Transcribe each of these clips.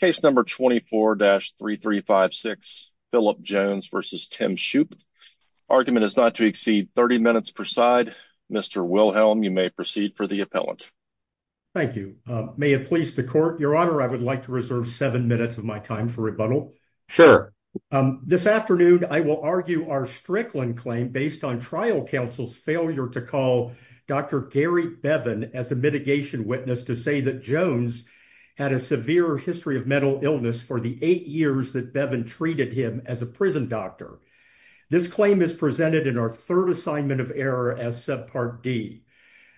Case number 24-3356, Philip Jones v. Tim Shoop. Argument is not to exceed 30 minutes per side. Mr. Wilhelm, you may proceed for the appellant. Thank you. May it please the court. Your honor, I would like to reserve seven minutes of my time for rebuttal. Sure. This afternoon, I will argue our Strickland claim based on trial counsel's failure to call Dr. Gary Bevin as a history of mental illness for the eight years that Bevin treated him as a prison doctor. This claim is presented in our third assignment of error as subpart D.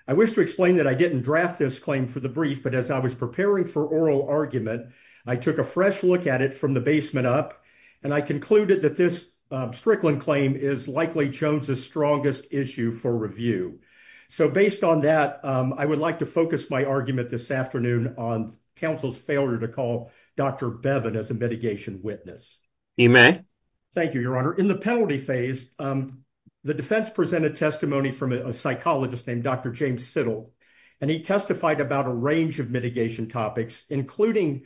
I wish to explain that I didn't draft this claim for the brief, but as I was preparing for oral argument, I took a fresh look at it from the basement up, and I concluded that this Strickland claim is likely Jones's strongest issue for review. So based on that, I would like to focus my argument this afternoon on counsel's failure to call Dr. Bevin as a mitigation witness. You may. Thank you, your honor. In the penalty phase, the defense presented testimony from a psychologist named Dr. James Siddle, and he testified about a range of mitigation topics, including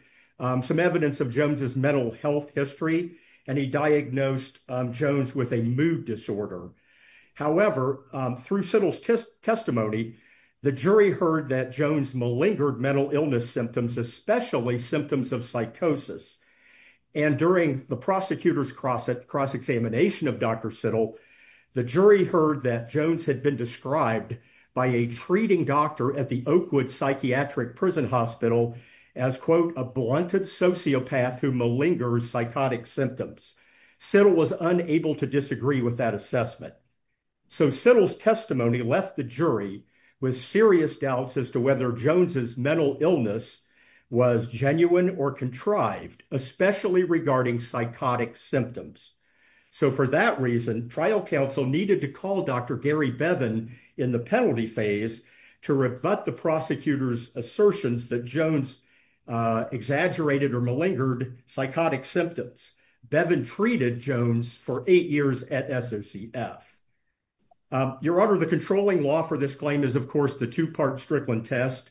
some evidence of Jones's mental health history, and he diagnosed Jones with a mood disorder. However, through Siddle's testimony, the jury heard that Jones malingered mental illness symptoms, especially symptoms of psychosis, and during the prosecutor's cross-examination of Dr. Siddle, the jury heard that Jones had been described by a treating doctor at the Oakwood Psychiatric Prison Hospital as, quote, a blunted sociopath who malingers psychotic symptoms. Siddle was unable to agree with that assessment. So Siddle's testimony left the jury with serious doubts as to whether Jones's mental illness was genuine or contrived, especially regarding psychotic symptoms. So for that reason, trial counsel needed to call Dr. Gary Bevin in the penalty phase to rebut the prosecutor's assertions that Jones exaggerated or malingered psychotic symptoms. Bevin treated Jones for eight years at SOCF. Your Honor, the controlling law for this claim is, of course, the two-part Strickland test.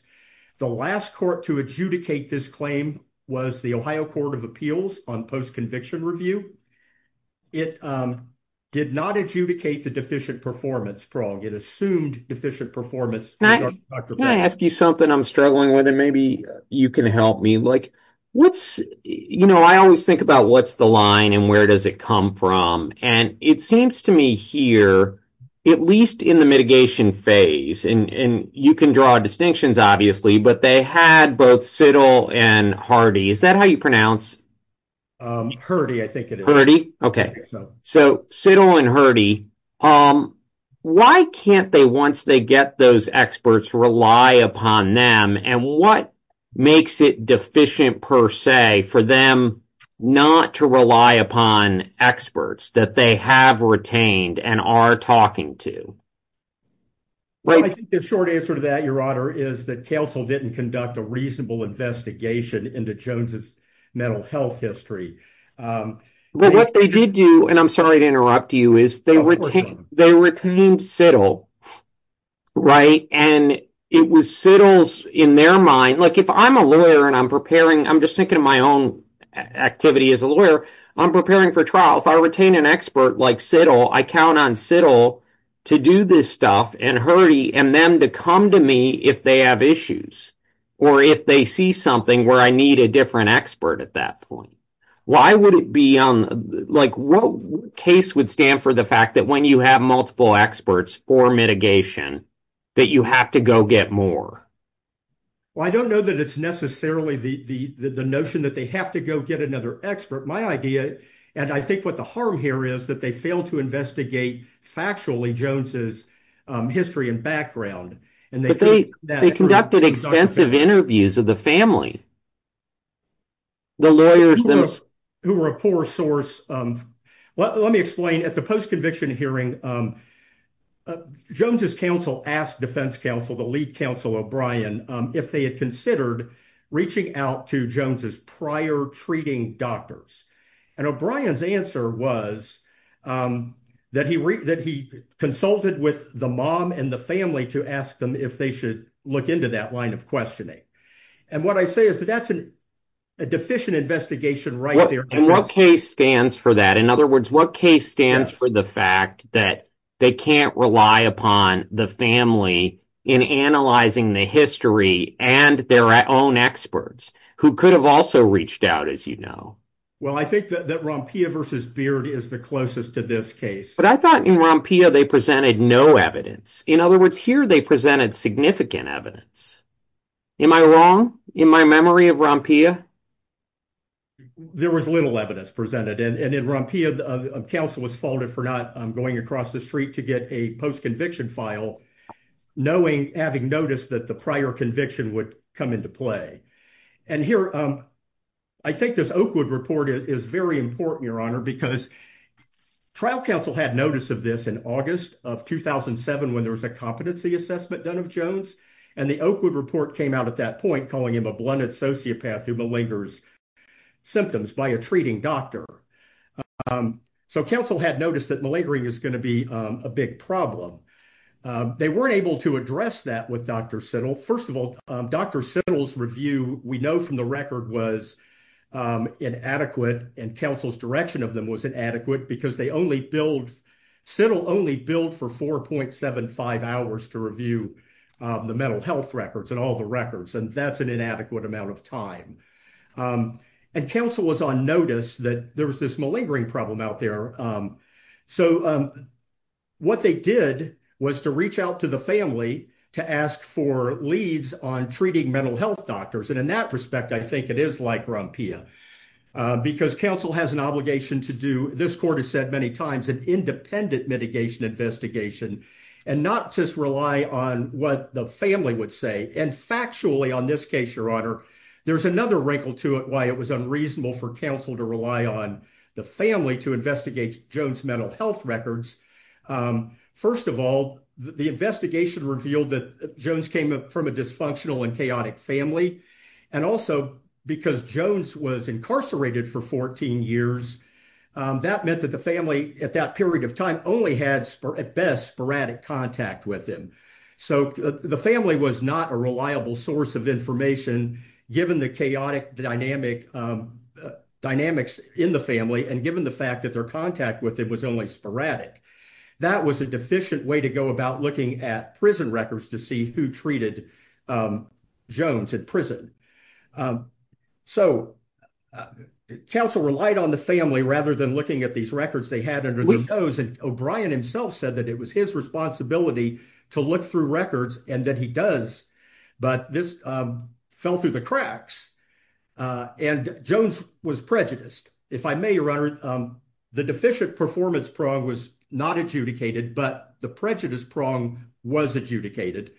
The last court to adjudicate this claim was the Ohio Court of Appeals on post-conviction review. It did not adjudicate the deficient performance prong. It assumed deficient performance. Can I ask you something I'm struggling with and maybe you can help me? Like, what's, you know, I always think about what's the line and where does it come from? And it seems to me here, at least in the mitigation phase, and you can draw distinctions, obviously, but they had both Siddle and Hardy. Is that how you pronounce? Hardy, I think it is. Hardy? Okay. So Siddle and Hardy. Why can't they, once they get those experts, rely upon them? And what makes it deficient per se for them not to rely upon experts that they have retained and are talking to? Well, I think the short answer to that, Your Honor, is that counsel didn't conduct a reasonable investigation into Jones's mental health history. But what they did do, and I'm sorry to interrupt you, is they retained Siddle, right? And it was Siddle's, in their mind, like if I'm a lawyer and I'm preparing, I'm just thinking of my own activity as a lawyer, I'm preparing for trial. If I retain an expert like Siddle, I count on Siddle to do this stuff and Hardy and them to come to me if they have issues or if they see something where I need a different expert at that point. Why would be on, like what case would stand for the fact that when you have multiple experts for mitigation that you have to go get more? Well, I don't know that it's necessarily the notion that they have to go get another expert. My idea, and I think what the harm here is, that they failed to investigate factually Jones's history and background. But they conducted extensive interviews of the family, the lawyers who were a poor source of, let me explain, at the post-conviction hearing Jones's counsel asked defense counsel, the lead counsel O'Brien, if they had considered reaching out to Jones's prior treating doctors. And O'Brien's answer was that he consulted with the mom and the family to ask them if they should look into that line of questioning. And what I say is that that's a deficient investigation right there. And what case stands for that? In other words, what case stands for the fact that they can't rely upon the family in analyzing the history and their own experts who could have also reached out, as you know? Well, I think that Rompia versus Beard is the closest to this case. But I thought in Rompia they presented no evidence. In other words, here they presented significant evidence. Am I wrong in my memory of Rompia? There was little evidence presented. And in Rompia, counsel was faulted for not going across the street to get a post-conviction file, knowing, having noticed that the prior conviction would come into play. And here, I think this Oakwood report is very important, your honor, because trial counsel had notice of this in August of 2007 when there was a competency assessment done of Jones. And the Oakwood report came out at that point calling him a blunted sociopath who malingers symptoms by a treating doctor. So, counsel had noticed that malingering is going to be a big problem. They weren't able to address that with Dr. Siddle. First of all, Dr. Siddle's review, we know from the record, was inadequate. And counsel's direction of them was inadequate because Siddle only billed for 4.75 hours to review the mental health records and all the records. And that's an inadequate amount of time. And counsel was on notice that there was this malingering problem out there. So, what they did was to reach out to the family to ask for leads on treating mental health doctors. And in that respect, I think it is like Rompia because counsel has an obligation to do, this court has said many times, an independent mitigation investigation and not just rely on what the family would say. And factually, on this case, your honor, there's another wrinkle to it why it was unreasonable for counsel to rely on the family to investigate Jones' mental health records. First of all, the investigation revealed that Jones came from a dysfunctional and chaotic family. And also, because Jones was incarcerated for 14 years, that meant that the family at that period of time only had at best sporadic contact with him. So, the family was not a reliable source of information given the chaotic dynamics in the family and given the fact that their contact with him was only sporadic. That was a deficient way to go about looking at prison records to see who treated Jones at prison. So, counsel relied on the family rather than looking at these records they had under their nose. And O'Brien himself said that it was his responsibility to look through records and that he does, but this fell through the cracks and Jones was prejudiced. If I may, your honor, the deficient performance prong was not adjudicated, but the prejudice prong was adjudicated.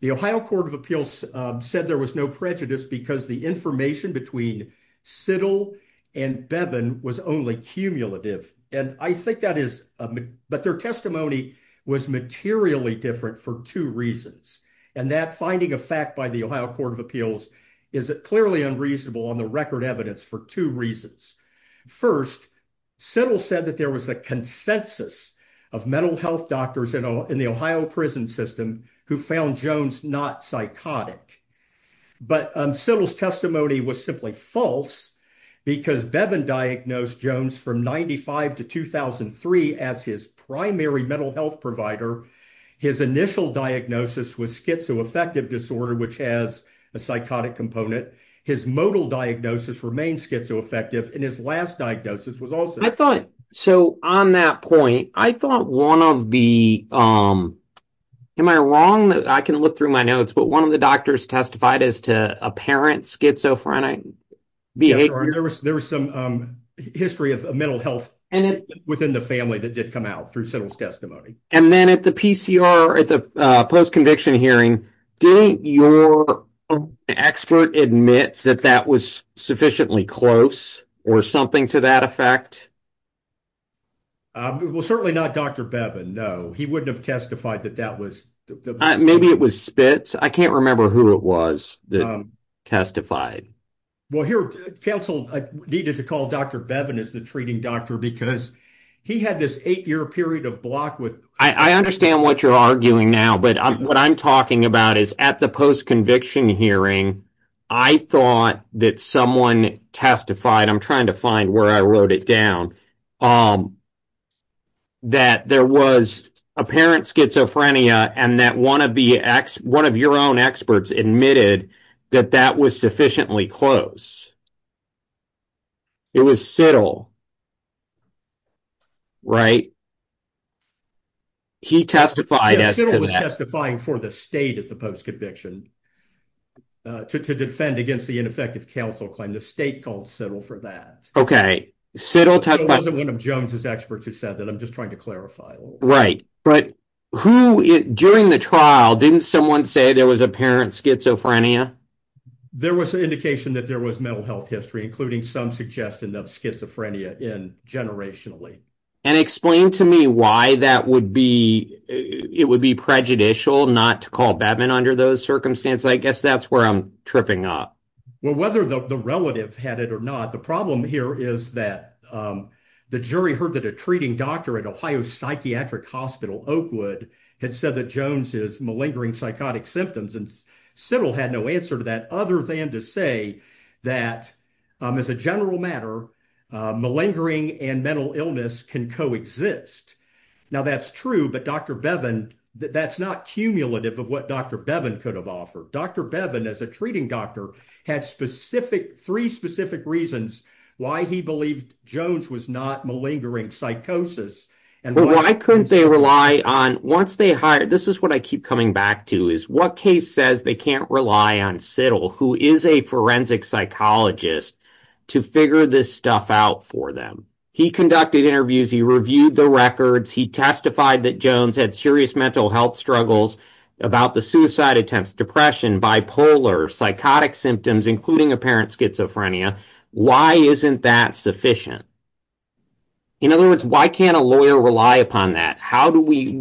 The Ohio Court of Appeals said there was no prejudice because the information between Siddle and Bevin was only cumulative. And I think that is, but their testimony was materially different for two reasons. And that finding of fact by the Ohio Court of Appeals is clearly unreasonable on the record evidence for two reasons. First, Siddle said that there was a consensus of mental health doctors in the Ohio prison system who found Jones not psychotic. But Siddle's testimony was simply false because Bevin diagnosed Jones from 95 to 2003 as his primary mental health provider. His initial diagnosis was schizoaffective disorder, which has psychotic component. His modal diagnosis remains schizoaffective and his last diagnosis was also. I thought, so on that point, I thought one of the, am I wrong? I can look through my notes, but one of the doctors testified as to apparent schizophrenic behavior. There was some history of mental health within the family that did come out through Siddle's testimony. And then at the PCR, at the post-conviction hearing, didn't your expert admit that that was sufficiently close or something to that effect? Well, certainly not Dr. Bevin. No, he wouldn't have testified that that was. Maybe it was Spitz. I can't remember who it was that testified. Well, here counsel needed to call Dr. Bevin as the treating doctor because he had this eight year period of block with. I understand what you're arguing now, but what I'm talking about is at the post-conviction hearing, I thought that someone testified, I'm trying to find where I wrote it down, that there was apparent schizophrenia and that one of your own experts admitted that that was sufficiently close. It was Siddle, right? He testified as to that. Siddle was testifying for the state at the post-conviction to defend against the ineffective counsel claim. The state called Siddle for that. Okay. Siddle testified. Siddle wasn't one of Jones's experts who said that. I'm just trying to clarify a little. Right. But who, during the trial, didn't someone say there was apparent schizophrenia? There was an indication that there was mental health history, including some suggestion of schizophrenia in generationally. And explain to me why that would be, it would be prejudicial not to call Batman under those circumstances. I guess that's where I'm tripping up. Well, whether the relative had it or not, the problem here is that the jury heard that a doctor at Ohio Psychiatric Hospital, Oakwood, had said that Jones is malingering psychotic symptoms. And Siddle had no answer to that other than to say that, as a general matter, malingering and mental illness can coexist. Now that's true, but Dr. Bevin, that's not cumulative of what Dr. Bevin could have offered. Dr. Bevin, as a treating doctor, had three specific reasons why he believed Jones was not malingering psychosis. And why couldn't they rely on, once they hired, this is what I keep coming back to, is what case says they can't rely on Siddle, who is a forensic psychologist, to figure this stuff out for them? He conducted interviews, he reviewed the records, he testified that Jones had serious mental health struggles about the suicide attempts, depression, bipolar, psychotic symptoms, including apparent schizophrenia. Why isn't that sufficient? In other words, why can't a lawyer rely upon that?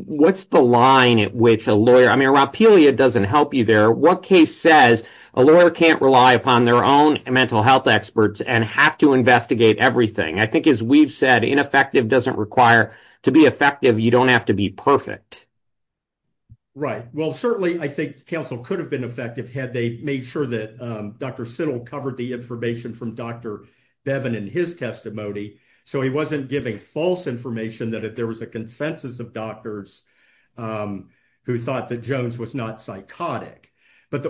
What's the line at which a lawyer, I mean, Rapelia doesn't help you there. What case says a lawyer can't rely upon their own mental health experts and have to investigate everything? I think, as we've said, ineffective doesn't require, to be effective, you don't have to be perfect. Right. Well, certainly, I think counsel could have been effective had they made sure that Dr. Siddle covered the information from Dr. Bevin in his testimony, so he wasn't giving false information, that if there was a consensus of doctors who thought that Jones was not psychotic. But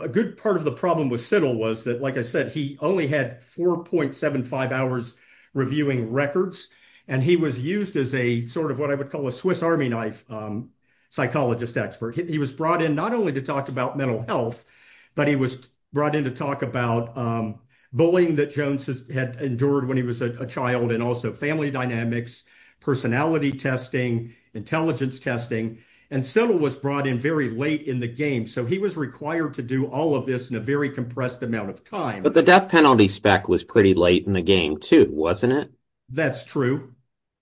a good part of the problem with Siddle was that, like I said, he only had 4.75 hours reviewing records, and he was used as a sort of what I would call a Swiss army knife psychologist expert. He was brought in not only to talk about mental health, but he was brought in to talk about bullying that Jones had endured when he was a child, and also family dynamics, personality testing, intelligence testing. And Siddle was brought in very late in the game, so he was required to do all of this in a very compressed amount of time. But the death penalty spec was pretty late in the game, too, wasn't it? That's true.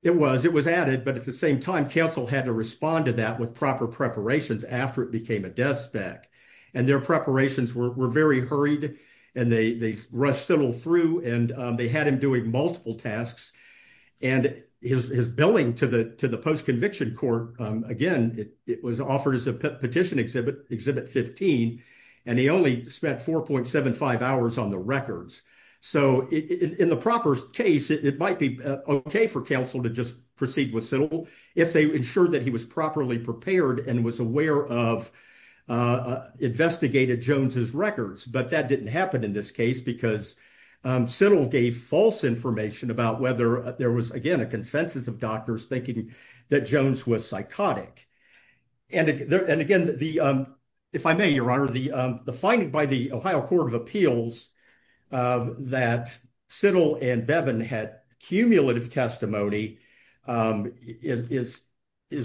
It was. It was added, but at the same time, counsel had to respond to that with proper preparations after it became a death spec. And their preparations were very hurried, and they rushed Siddle through, and they had him doing multiple tasks. And his billing to the post-conviction court, again, it was offered as a petition exhibit, exhibit 15, and he only spent 4.75 hours on the records. So in the proper case, it might be okay for counsel to just proceed with if they ensured that he was properly prepared and was aware of, investigated Jones's records. But that didn't happen in this case because Siddle gave false information about whether there was, again, a consensus of doctors thinking that Jones was psychotic. And again, if I may, Your Honor, the finding by the Ohio Court of Appeals that Siddle and Bevin had cumulative testimony is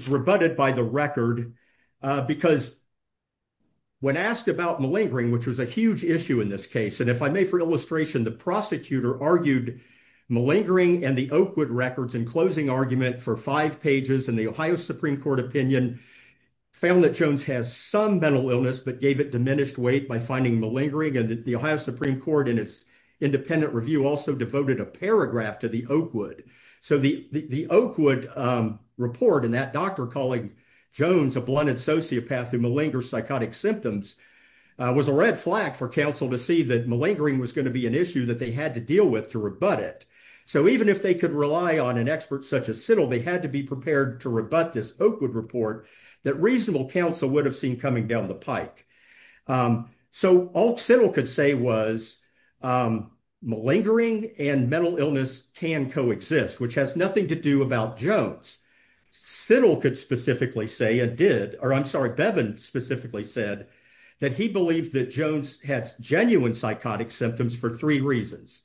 rebutted by the record because when asked about malingering, which was a huge issue in this case, and if I may, for illustration, the prosecutor argued malingering and the Oakwood records in closing argument for five pages in the Ohio Supreme Court opinion found that Jones has some mental illness, but gave it diminished weight by finding malingering. And the Ohio Supreme Court in its independent review also devoted a paragraph to the Oakwood. So the Oakwood report and that doctor calling Jones a blunted sociopath who malingers psychotic symptoms was a red flag for counsel to see that malingering was going to be an issue that they had to deal with to rebut it. So even if they could rely on an expert such as Siddle, they had to be prepared to rebut this Oakwood report that reasonable counsel would have seen coming down the pike. So all Siddle could say was malingering and mental illness can coexist, which has nothing to do about Jones. Siddle could specifically say and did, or I'm sorry, Bevin specifically said that he believed that Jones has genuine psychotic symptoms for three reasons.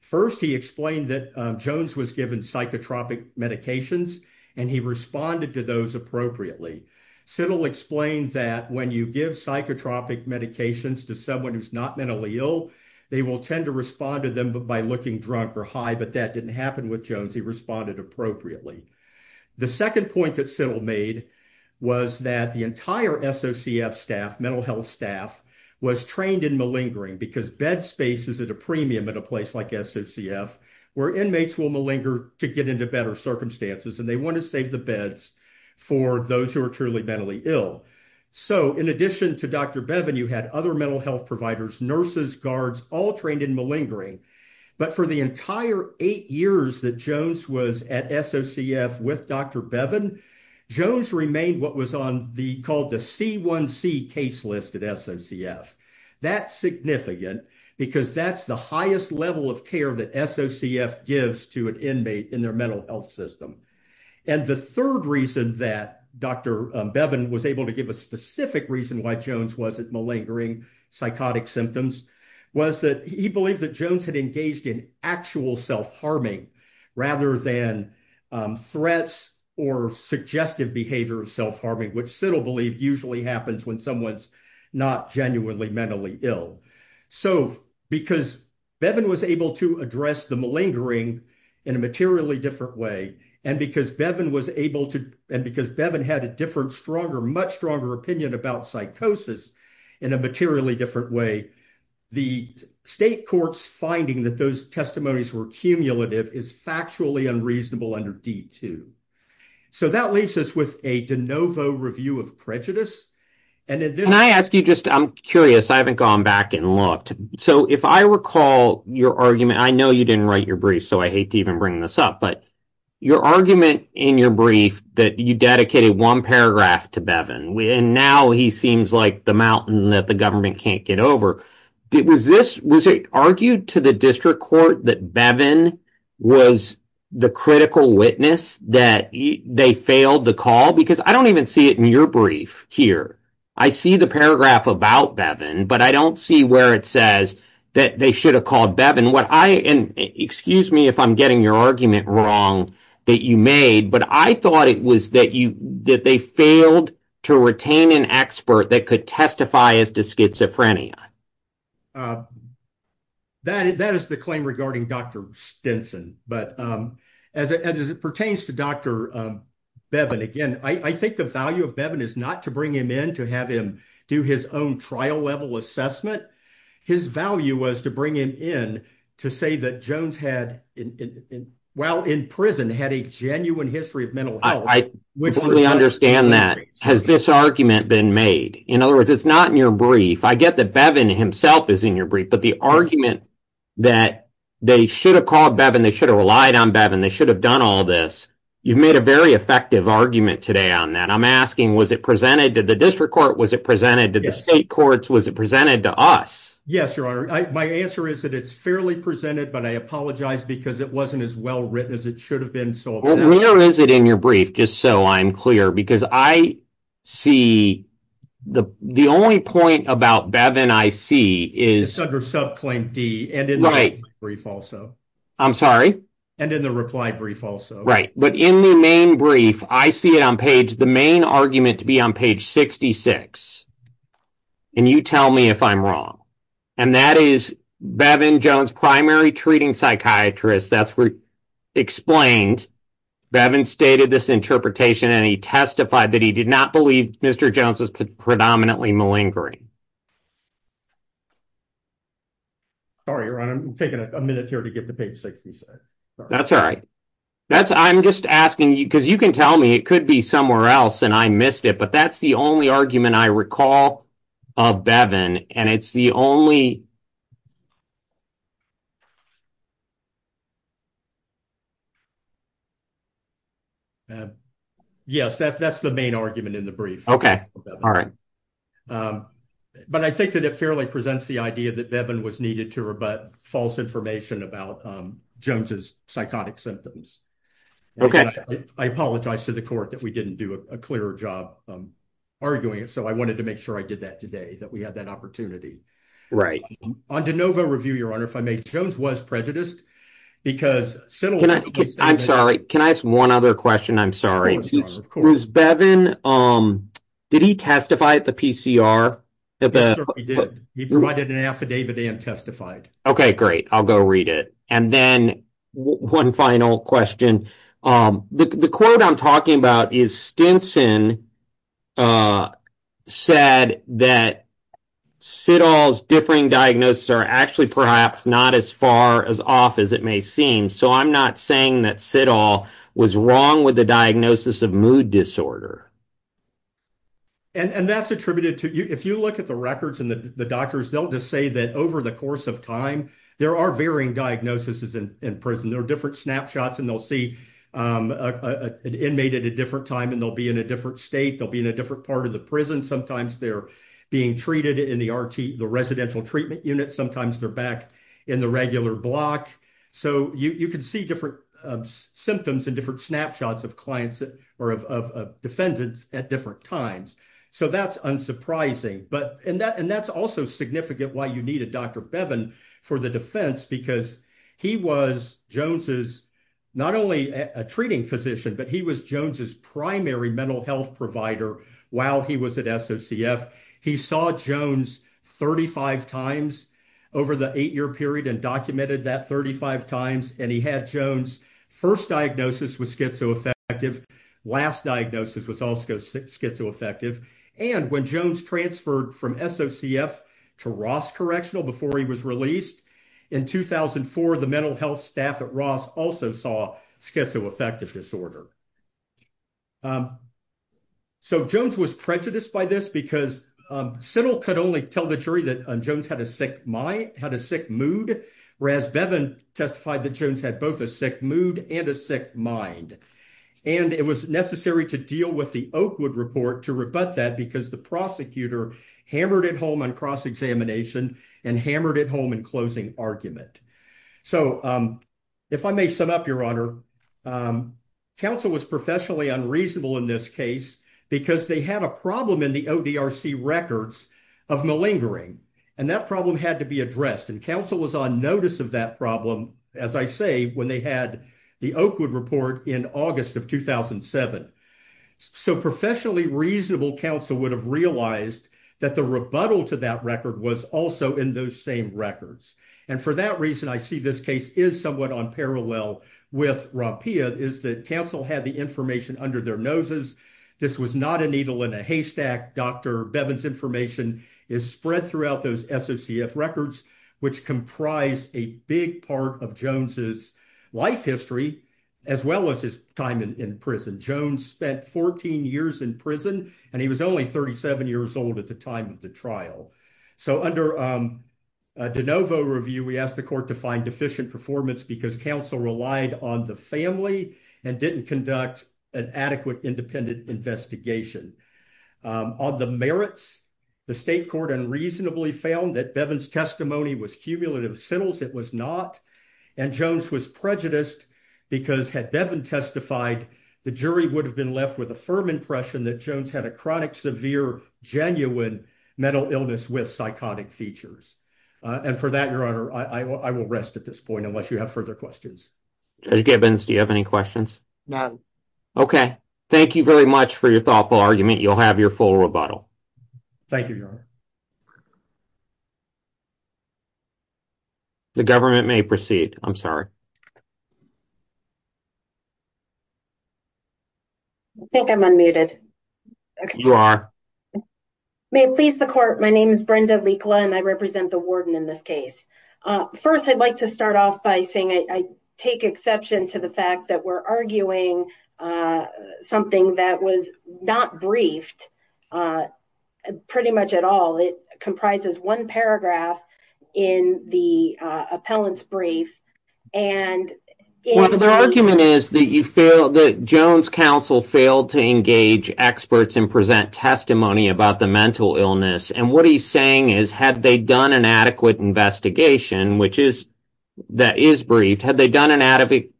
First, he explained that Jones was psychotropic medications, and he responded to those appropriately. Siddle explained that when you give psychotropic medications to someone who's not mentally ill, they will tend to respond to them by looking drunk or high, but that didn't happen with Jones. He responded appropriately. The second point that Siddle made was that the entire SOCF staff, mental health staff, was trained in malingering because bed space is at a premium at a place like SOCF, where inmates will malinger to get into better circumstances, and they want to save the beds for those who are truly mentally ill. So in addition to Dr. Bevin, you had other mental health providers, nurses, guards, all trained in malingering, but for the entire eight years that Jones was at SOCF with Dr. Bevin, Jones remained what was on the called the C1C case list at SOCF. That's significant because that's the highest level of care that SOCF gives to an inmate in their mental health system. And the third reason that Dr. Bevin was able to give a specific reason why Jones wasn't malingering psychotic symptoms was that he believed that Jones had engaged in actual self-harming rather than threats or suggestive behavior of self-harming, which Siddle believed usually happens when someone's not genuinely mentally ill. So because Bevin was able to address the malingering in a materially different way, and because Bevin had a different, stronger, much stronger opinion about psychosis in a materially different way, the state court's finding that those testimonies were cumulative is factually unreasonable under D2. So that leaves us with a de novo review of prejudice. Can I ask you just, I'm curious, I haven't gone back and looked. So if I recall your argument, I know you didn't write your brief, so I hate to even bring this up, but your argument in your brief that you dedicated one paragraph to Bevin, and now he seems like the mountain that the government can't get over. Was it argued to the district court that Bevin was the critical witness that they failed the call? Because I don't even see it in your brief here. I see the paragraph about Bevin, but I don't see where it says that they should have called Bevin. What I, and excuse me if I'm getting your argument wrong that you made, but I thought it was that you, that they failed to retain an expert that could testify as to schizophrenia. That is the claim regarding Dr. Stinson, but as it pertains to Dr. Bevin again, I think the value of Bevin is not to bring him in to have him do his own trial level assessment. His value was to bring him in to say that Jones had, while in prison, had a genuine history of mental health. I fully understand that. Has this argument been made? In other words, it's not in your brief. I get that Bevin himself is in your brief, but the argument that they should have called Bevin, they should have relied on Bevin, they should have done all this. You've made a very effective argument today on that. I'm asking, was it presented to the district court? Was it presented to the state courts? Was it presented to us? Yes, your honor. My answer is that it's fairly presented, but I apologize because it wasn't as well written as it should have been. Where is it in your brief, just so I'm clear? Because I see the only point about Bevin I see is under subclaim D and in the reply brief also. I'm sorry? And in the reply brief also. Right, but in the main brief, I see it on page, the main argument to be on page 66. And you tell me if I'm wrong. And that is Bevin Jones, primary treating psychiatrist, that's explained. Bevin stated this interpretation and he testified that he did not believe Mr. Jones was predominantly malingering. Sorry, your honor. I'm taking a minute here to get to page 66. That's all right. That's I'm just asking you because you can tell me it could be somewhere else and I missed it. But that's the only argument I recall of Bevin. And it's the only argument. Yes, that's that's the main argument in the brief. Okay. All right. But I think that it fairly presents the idea that Bevin was needed to rebut false information about Jones's psychotic symptoms. Okay. I apologize to the court that we didn't do a clearer job arguing it. So I wanted to make sure I did that today that we had that opportunity. Right. On DeNovo review, your honor, if I may, Jones was prejudiced because... I'm sorry. Can I ask one other question? I'm sorry. Was Bevin, did he testify at the PCR? He provided an affidavit and testified. Okay, great. I'll go read it. And then one final question. The quote I'm talking about is Stinson said that Sidall's differing diagnosis are actually perhaps not as far as off as it may seem. So I'm not saying that Sidall was wrong with the diagnosis of mood disorder. And that's attributed to if you look at the records and the doctors, they'll just say that over the course of time, there are varying diagnoses in prison. There are different snapshots and they'll see an inmate at a different time and they'll be in a different state. They'll be in a different part of the prison. Sometimes they're being treated in the RT, the residential treatment unit. Sometimes they're back in the regular block. So you can see different symptoms and different snapshots of clients or of defendants at different times. So that's unsurprising. And that's also significant why you needed Dr. Bevin for the defense because he was Jones's, not only a treating physician, but he was Jones's primary mental health provider while he was at SOCF. He saw Jones 35 times over the eight-year period and documented that 35 times. And he had Jones first diagnosis was schizoaffective. Last diagnosis was also schizoaffective. And when Jones transferred from SOCF to Ross Correctional before he was released in 2004, the mental health staff at Ross also saw schizoaffective disorder. So Jones was prejudiced by this because Settle could only tell the jury that Jones had a sick mind, had a sick mood, whereas Bevin testified that Jones had both a sick mood and a sick mind. And it was necessary to deal with the Oakwood report to rebut that because the prosecutor hammered it home on cross-examination and hammered it home in closing argument. So if I may sum up, counsel was professionally unreasonable in this case because they had a problem in the ODRC records of malingering. And that problem had to be addressed. And counsel was on notice of that problem, as I say, when they had the Oakwood report in August of 2007. So professionally reasonable counsel would have realized that the rebuttal to that record was also in those same records. And for that reason, I see this case is somewhat on parallel with Rapia, is that counsel had the information under their noses. This was not a needle in a haystack. Dr. Bevin's information is spread throughout those SOCF records, which comprise a big part of Jones's life history, as well as his time in prison. Jones spent 14 years in prison, and he was only 37 years old at the time of the trial. So under DeNovo review, we asked the court to find deficient performance because counsel relied on the family and didn't conduct an adequate independent investigation. On the merits, the state court unreasonably found that Bevin's testimony was cumulative assentals. It was not. And Jones was prejudiced because had Bevin testified, the jury would have left with a firm impression that Jones had a chronic, severe, genuine mental illness with psychotic features. And for that, Your Honor, I will rest at this point unless you have further questions. Judge Gibbons, do you have any questions? None. Okay. Thank you very much for your thoughtful argument. You'll have your full rebuttal. Thank you, Your Honor. The government may proceed. I'm sorry. I think I'm unmuted. You are. May it please the court, my name is Brenda Likla, and I represent the warden in this case. First, I'd like to start off by saying I take exception to the fact that we're arguing something that was not briefed pretty much at all. It comprises one paragraph in the appellant's brief. The argument is that Jones' counsel failed to engage experts and present testimony about the mental illness. And what he's saying is, had they done an adequate investigation, which is briefed, had they done an adequate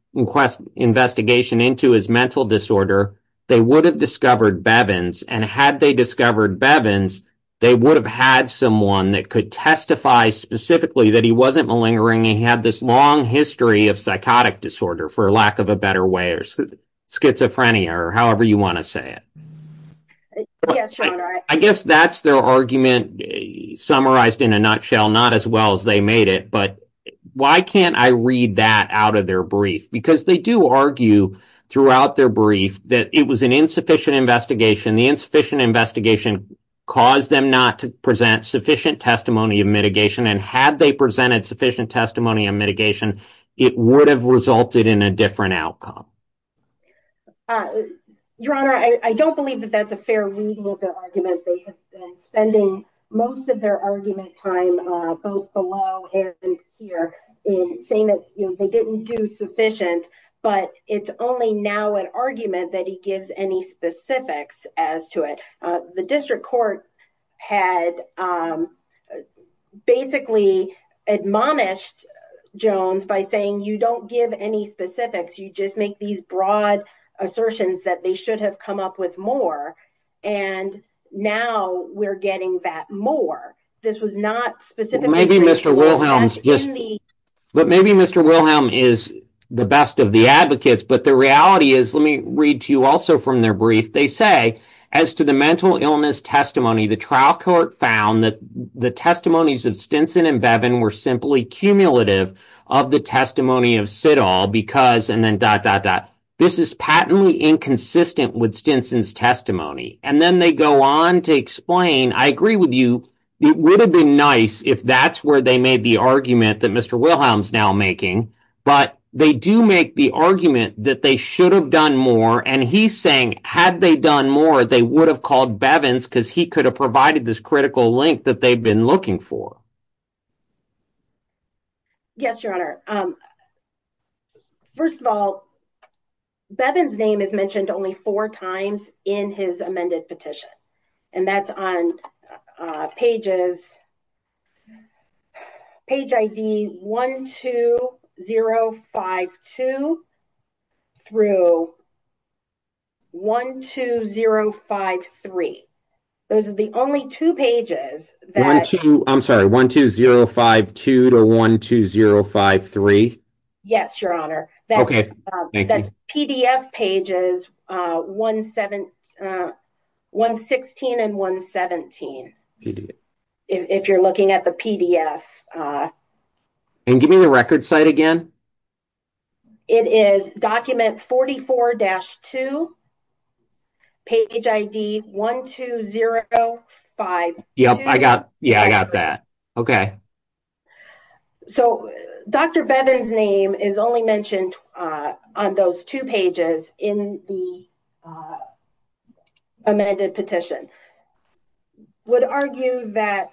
investigation into his mental disorder, they would have discovered Bevin's. And had they discovered Bevin's, they would have had someone that could testify specifically that he wasn't malingering and he had this long history of psychotic disorder, for lack of a better way, or schizophrenia, or however you want to say it. I guess that's their argument summarized in a nutshell, not as well as they made it. But why can't I read that out of their brief? Because they do argue throughout their brief that it was an insufficient investigation. The insufficient investigation caused them not to present sufficient testimony of mitigation. And had they presented sufficient testimony of mitigation, it would have resulted in a different outcome. Your Honor, I don't believe that that's a fair reading of the argument. They have been spending most of their argument time both below and here in saying that they didn't do sufficient. But it's only now an argument that he gives any specifics as to it. The district court had basically admonished Jones by saying you don't give any specifics, you just make these broad assertions that they should have come up with more. And now we're getting that more. This was not specifically... Maybe Mr. Wilhelm's just... But maybe Mr. Wilhelm is the best of the advocates. But the reality is, let me read to you from their brief. They say, as to the mental illness testimony, the trial court found that the testimonies of Stinson and Bevin were simply cumulative of the testimony of Sidall because... This is patently inconsistent with Stinson's testimony. And then they go on to explain, I agree with you, it would have been nice if that's where they made the argument that Mr. Had they done more, they would have called Bevin's because he could have provided this critical link that they've been looking for. Yes, your honor. First of all, Bevin's name is mentioned only four times in his amended petition. And that's on page ID 12052 through 12053. Those are the only two pages that... I'm sorry, 12052 to 12053? Yes, your honor. That's PDF pages 116 and 117, if you're looking at the PDF. And give me the record site again. It is document 44-2, page ID 12052. Yeah, I got that. Okay. Okay. So, Dr. Bevin's name is only mentioned on those two pages in the amended petition. Would argue that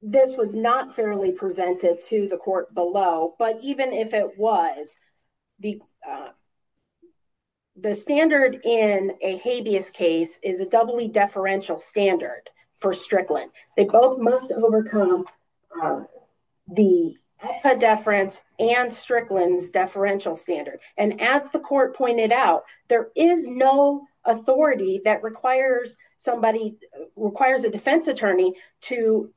this was not fairly presented to the court below, but even if it was, the standard in a habeas case is a doubly deferential standard for Strickland. They must overcome the deference and Strickland's deferential standard. And as the court pointed out, there is no authority that requires a defense attorney to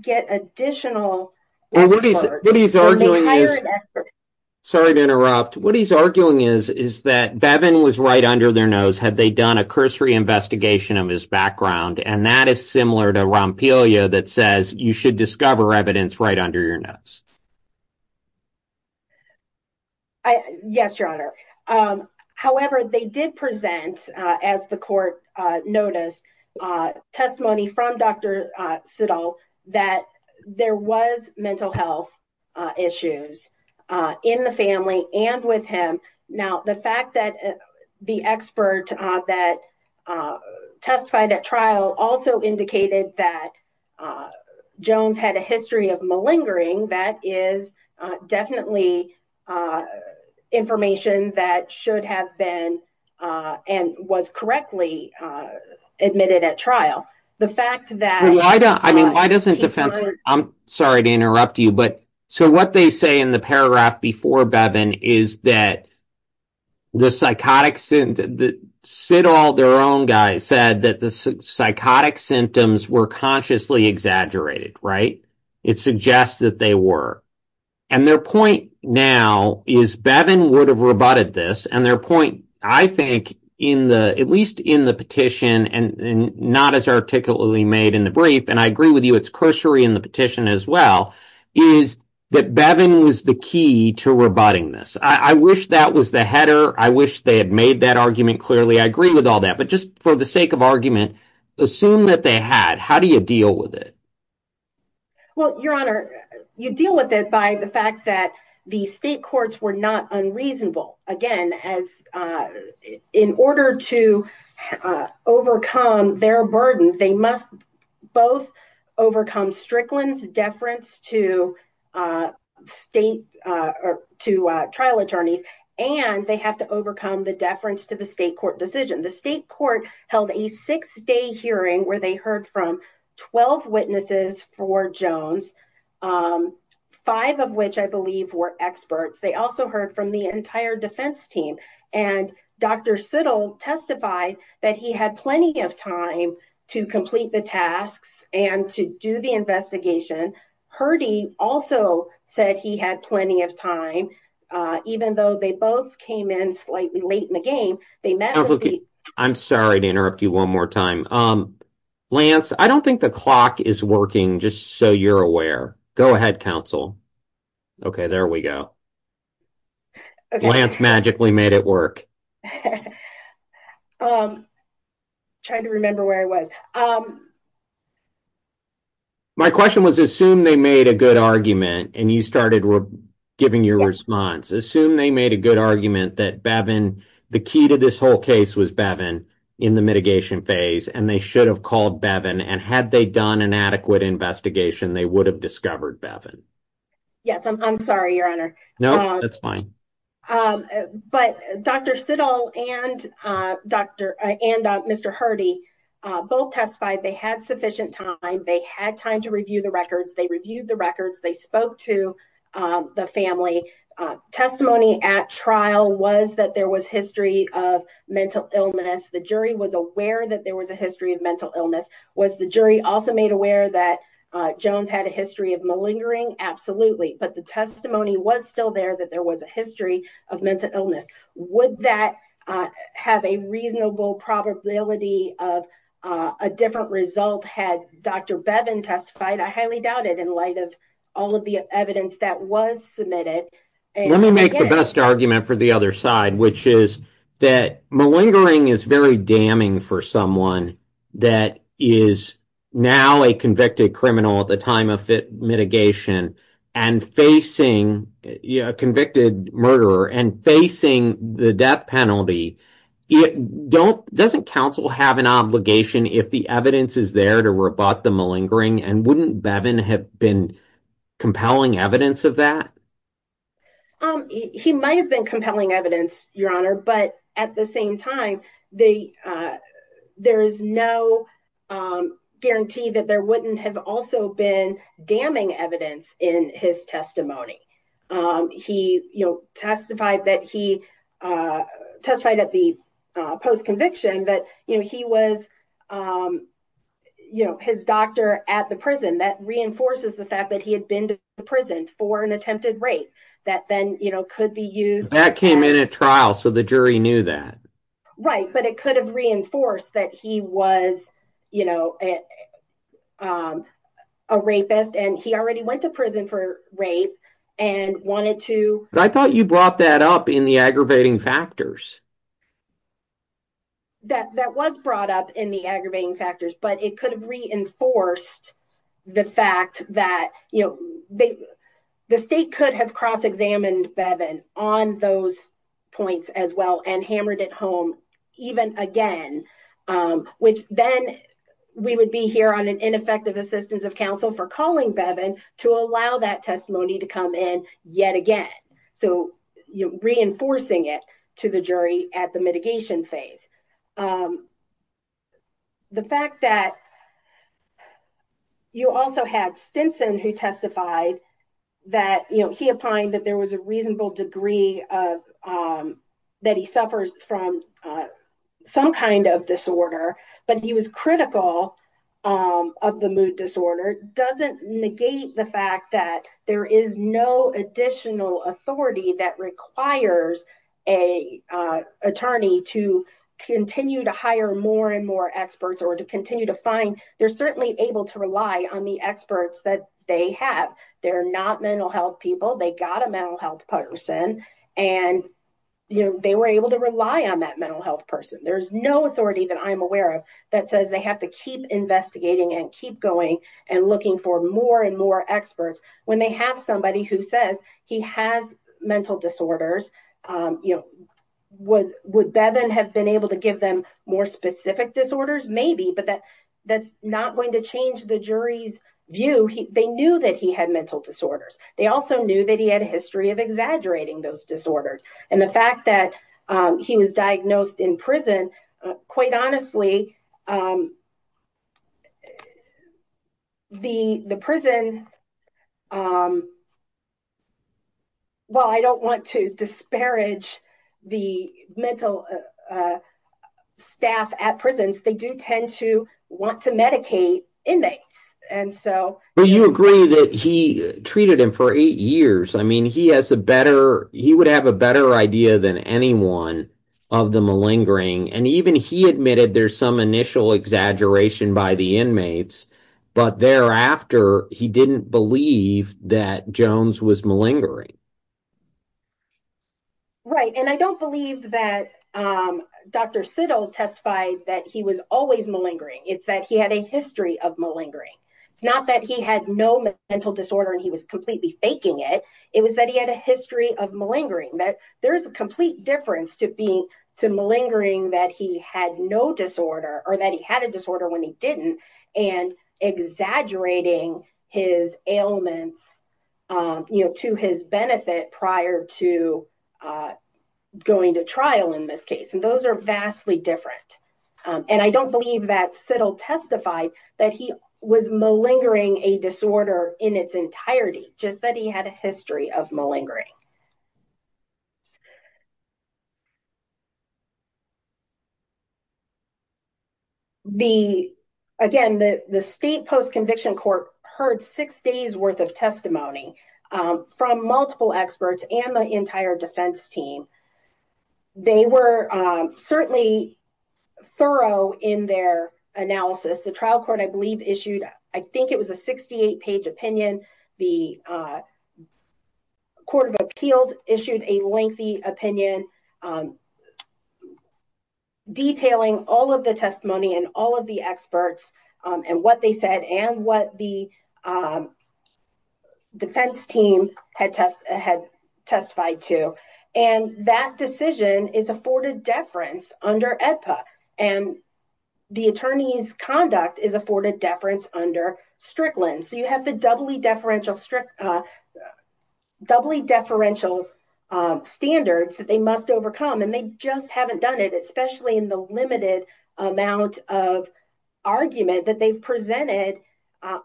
get additional... Sorry to interrupt. What he's arguing is that Bevin was right under their nose. Had they done a cursory investigation of his background. And that is similar to Rompelio that says you should discover evidence right under your nose. Yes, your honor. However, they did present as the court noticed testimony from Dr. Siddall that there was mental health issues in the family and with him. Now, the fact that the expert that testified at trial also indicated that Jones had a history of malingering. That is definitely information that should have been and was correctly admitted at trial. The fact that... I'm sorry to interrupt you, but so what they say in the paragraph before Bevin is that the psychotic... Siddall, their own guy, said that the psychotic symptoms were consciously exaggerated, right? It suggests that they were. And their point now is Bevin would have rebutted this. And their point, I think, at least in the petition and not as articulately made in the brief, and I agree with you, it's cursory in the petition as well, is that Bevin was the key to rebutting this. I wish that was the header. I wish they had made that argument clearly. I agree with all that, but just for the sake of argument, assume that they had. How do you deal with it? Well, your honor, you deal with it by the fact that the state courts were not unreasonable. Again, as in order to overcome their burden, they must both overcome Strickland's deference to state or to trial attorneys, and they have to overcome the deference to the state court decision. The state court held a six-day hearing where they heard from 12 witnesses for Jones, five of which I believe were experts. They also heard from the entire defense team. And Dr. Siddall testified that he had plenty of time to complete the tasks and to do the investigation. Hurdy also said he had plenty of time, even though they both came in slightly late in the game. I'm sorry to interrupt you one more time. Lance, I don't think the clock is working just so you're aware. Go ahead, counsel. Okay, there we go. Lance magically made it work. Trying to remember where I was. My question was, assume they made a good argument, and you started giving your response. Assume they made a good argument that the key to this whole case was Bevin in the mitigation phase, and they should have called Bevin, and had they done an adequate investigation, they would have discovered Bevin. Yes, I'm sorry, your honor. No, that's fine. But Dr. Siddall and Mr. Hurdy both testified they had sufficient time, they had time to review the records, they reviewed the records, they spoke to the family. Testimony at trial was that there was history of mental illness. The jury was aware that there was a history of mental illness. Was the jury also made aware that Jones had a history of absolutely, but the testimony was still there that there was a history of mental illness. Would that have a reasonable probability of a different result had Dr. Bevin testified? I highly doubt it in light of all of the evidence that was submitted. Let me make the best argument for the other side, which is that malingering is very damning for someone that is now a convicted criminal at the time of mitigation, and facing a convicted murderer, and facing the death penalty. Doesn't counsel have an obligation if the evidence is there to rebut the malingering, and wouldn't Bevin have been compelling evidence of that? He might have been compelling evidence, Your Honor, but at the same time, there is no guarantee that there wouldn't have also been damning evidence in his testimony. He testified that he testified at the post-conviction that he was his doctor at the prison. That reinforces the fact that he had been to for an attempted rape that then could be used. That came in at trial, so the jury knew that. Right, but it could have reinforced that he was a rapist, and he already went to prison for rape and wanted to. I thought you brought that up in the aggravating factors. That was brought up in the aggravating factors, but it could have reinforced the fact that the state could have cross-examined Bevin on those points as well, and hammered it home even again, which then we would be here on an ineffective assistance of counsel for calling Bevin to allow that testimony to come in yet again, so reinforcing it to the jury at the mitigation phase. The fact that you also had Stinson who testified that he opined that there was a reasonable degree that he suffers from some kind of disorder, but he was critical of the mood disorder, doesn't negate the fact that there is no additional authority that requires an attorney to continue to hire more and more experts, or to continue to find. They're certainly able to rely on the experts that they have. They're not mental health people. They got a mental health person, and they were able to rely on that mental health person. There's no authority that I'm aware of that says they have to keep investigating and keep going and looking for more and more experts when they have somebody who says he has mental disorders. Would Bevin have been able to give them more specific disorders? Maybe, but that's not going to change the jury's view. They knew that he had mental disorders. They also knew that he had a history of exaggerating those disorders, and the fact that he was diagnosed in prison, quite honestly, while I don't want to disparage the mental staff at prisons, they do tend to want to medicate inmates. You agree that he treated him for eight years. He would have a better idea than anyone of the malingering, and even he admitted there's some initial exaggeration by the inmates, but thereafter, he didn't believe that Jones was malingering. Right, and I don't believe that Dr. Siddle testified that he was always malingering. It's that he had a history of malingering. It's not that he had no mental disorder and he was completely faking it. It was that he had a history of malingering, that there's a complete difference to malingering that he had no disorder or that he had a disorder when he didn't and exaggerating his ailments to his benefit prior to going to trial in this case, and those are vastly different, and I don't believe that Siddle testified that he was malingering a disorder in its entirety, just that he had a history of malingering. Again, the state post-conviction court heard six days worth of testimony from multiple experts and the entire defense team. They were certainly thorough in their analysis. The trial court, I believe, issued, I think it was a 68-page opinion. The Court of Appeals issued a lengthy opinion detailing all of the testimony and all of the experts and what they said and what the defense team had testified to, and that decision is afforded deference under AEDPA, and the attorney's conduct is afforded deference under Strickland. So, you have the doubly deferential standards that they must overcome, and they just haven't done it, especially in the limited amount of argument that they've presented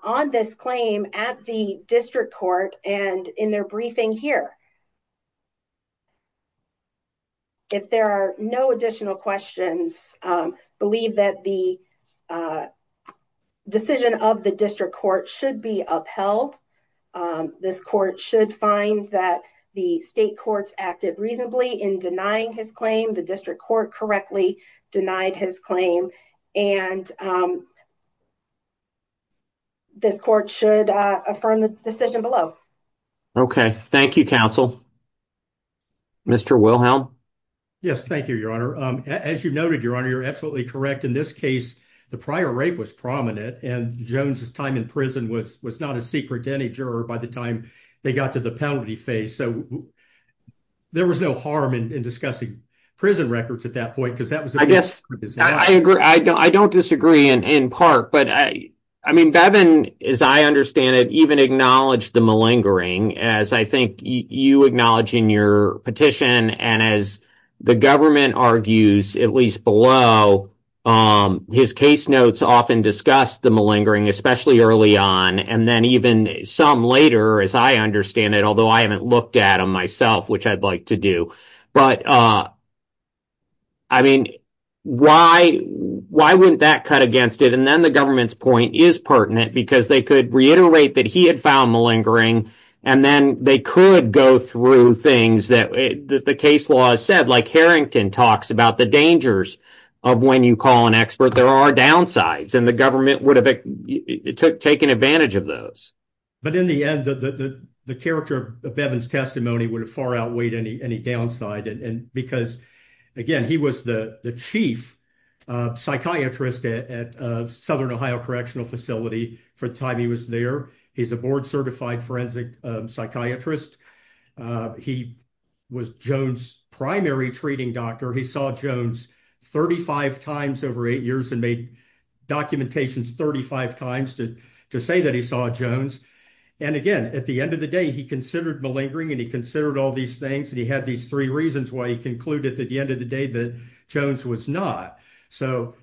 on this claim at the district court and in their briefing here. If there are no additional questions, I believe that the decision of the district court should be upheld. This court should find that the state courts acted reasonably in denying his claim. The district court correctly denied his claim, and this court should affirm the decision below. Okay, thank you, counsel. Mr. Wilhelm? Yes, thank you, your honor. As you noted, your honor, you're absolutely correct. In this case, the prior rape was prominent, and Jones's time in prison was not a secret to any juror by the time they got to the penalty phase. So, there was no harm in discussing prison records at that point, because that was- I guess I agree. I don't disagree in part, but I mean, Bevin, as I understand it, even acknowledged the malingering, as I think you acknowledge in your petition, and as the government argues, at least below, his case notes often discuss the malingering, especially early on, and then even some later, as I understand it, although I haven't looked at them myself, which I'd like to do. But, I mean, why wouldn't that cut against it? And then the government's point is pertinent, because they could reiterate that he had found malingering, and then they could go through things that the case law has said, like Harrington talks about the dangers of when you call an expert. There are downsides, and the government would have taken advantage of those. But, in the end, the character of Bevin's testimony would have far outweighed any downside, because, again, he was the chief psychiatrist at Southern Ohio Correctional Facility for the time he was there. He's a board-certified forensic psychiatrist. He was Jones' primary treating doctor. He saw Jones 35 times over eight years, and made documentations 35 times to say that he saw Jones. And, again, at the end of the day, he considered malingering, and he considered all these things, and he had these three reasons why he concluded at the end of the day that Jones was not. So,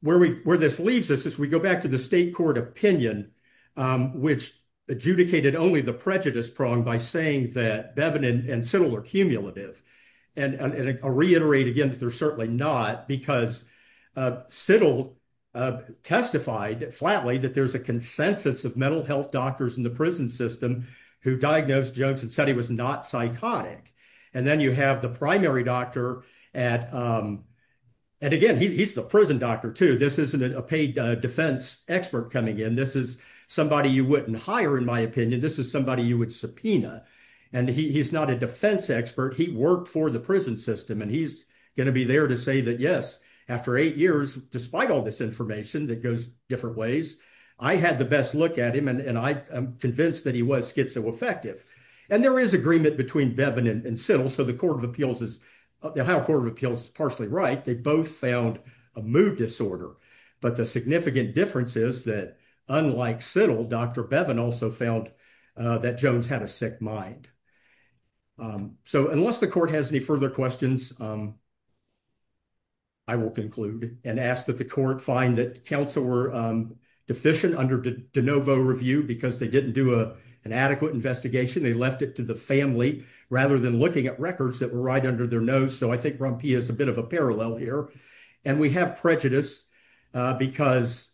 where this leaves us is we go back to the state court opinion, which adjudicated only the prejudice prong by saying that Bevin and Siddle are cumulative, and I'll reiterate again that they're certainly not, because Siddle testified flatly that there's a consensus of mental health doctors in the prison system who diagnosed Jones and said he was not psychotic. And then you have the primary doctor at, and, again, he's the prison doctor, too. This isn't a paid defense expert coming in. This is somebody you wouldn't hire, in my opinion. This is somebody you would subpoena. And he's not a defense expert. He worked for the prison system, and he's going to be there to say that, yes, after eight years, despite all this information that goes different ways, I had the best look at him, and I'm convinced that he was schizoaffective. And there is agreement between Bevin and Siddle. So, the Ohio Court of Appeals is partially right. They both found a mood disorder, but the significant difference is that, unlike Siddle, Dr. Bevin also found that Jones had a sick mind. So, unless the court has any further questions, I will conclude and ask that the court find that counsel were deficient under De Novo review because they didn't do an adequate investigation. They left it to the family rather than looking at records that were right under their nose. So, I think Rumpia is a bit of a parallel here. And we have prejudice because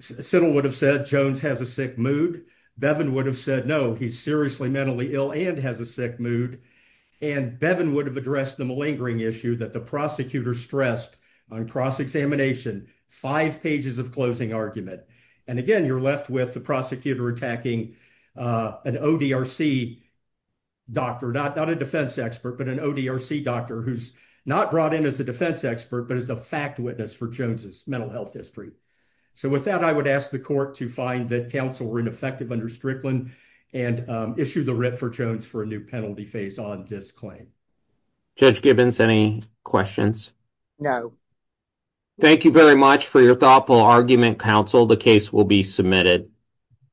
Siddle would have said Jones has a sick mood. Bevin would have said, no, he's seriously mentally ill and has a sick mood. And Bevin would have addressed the malingering issue that the prosecutor stressed on cross-examination, five pages of closing argument. And again, you're left with the prosecutor attacking an ODRC doctor, not a defense expert, but an ODRC doctor who's not brought in as a defense expert, but as a fact witness for Jones's mental health history. So, with that, I would ask the court to find that counsel were ineffective under Strickland and issue the writ for Jones for a new penalty phase on this claim. Judge Gibbons, any questions? No. Thank you very much for your thoughtful argument, counsel. The case will be submitted.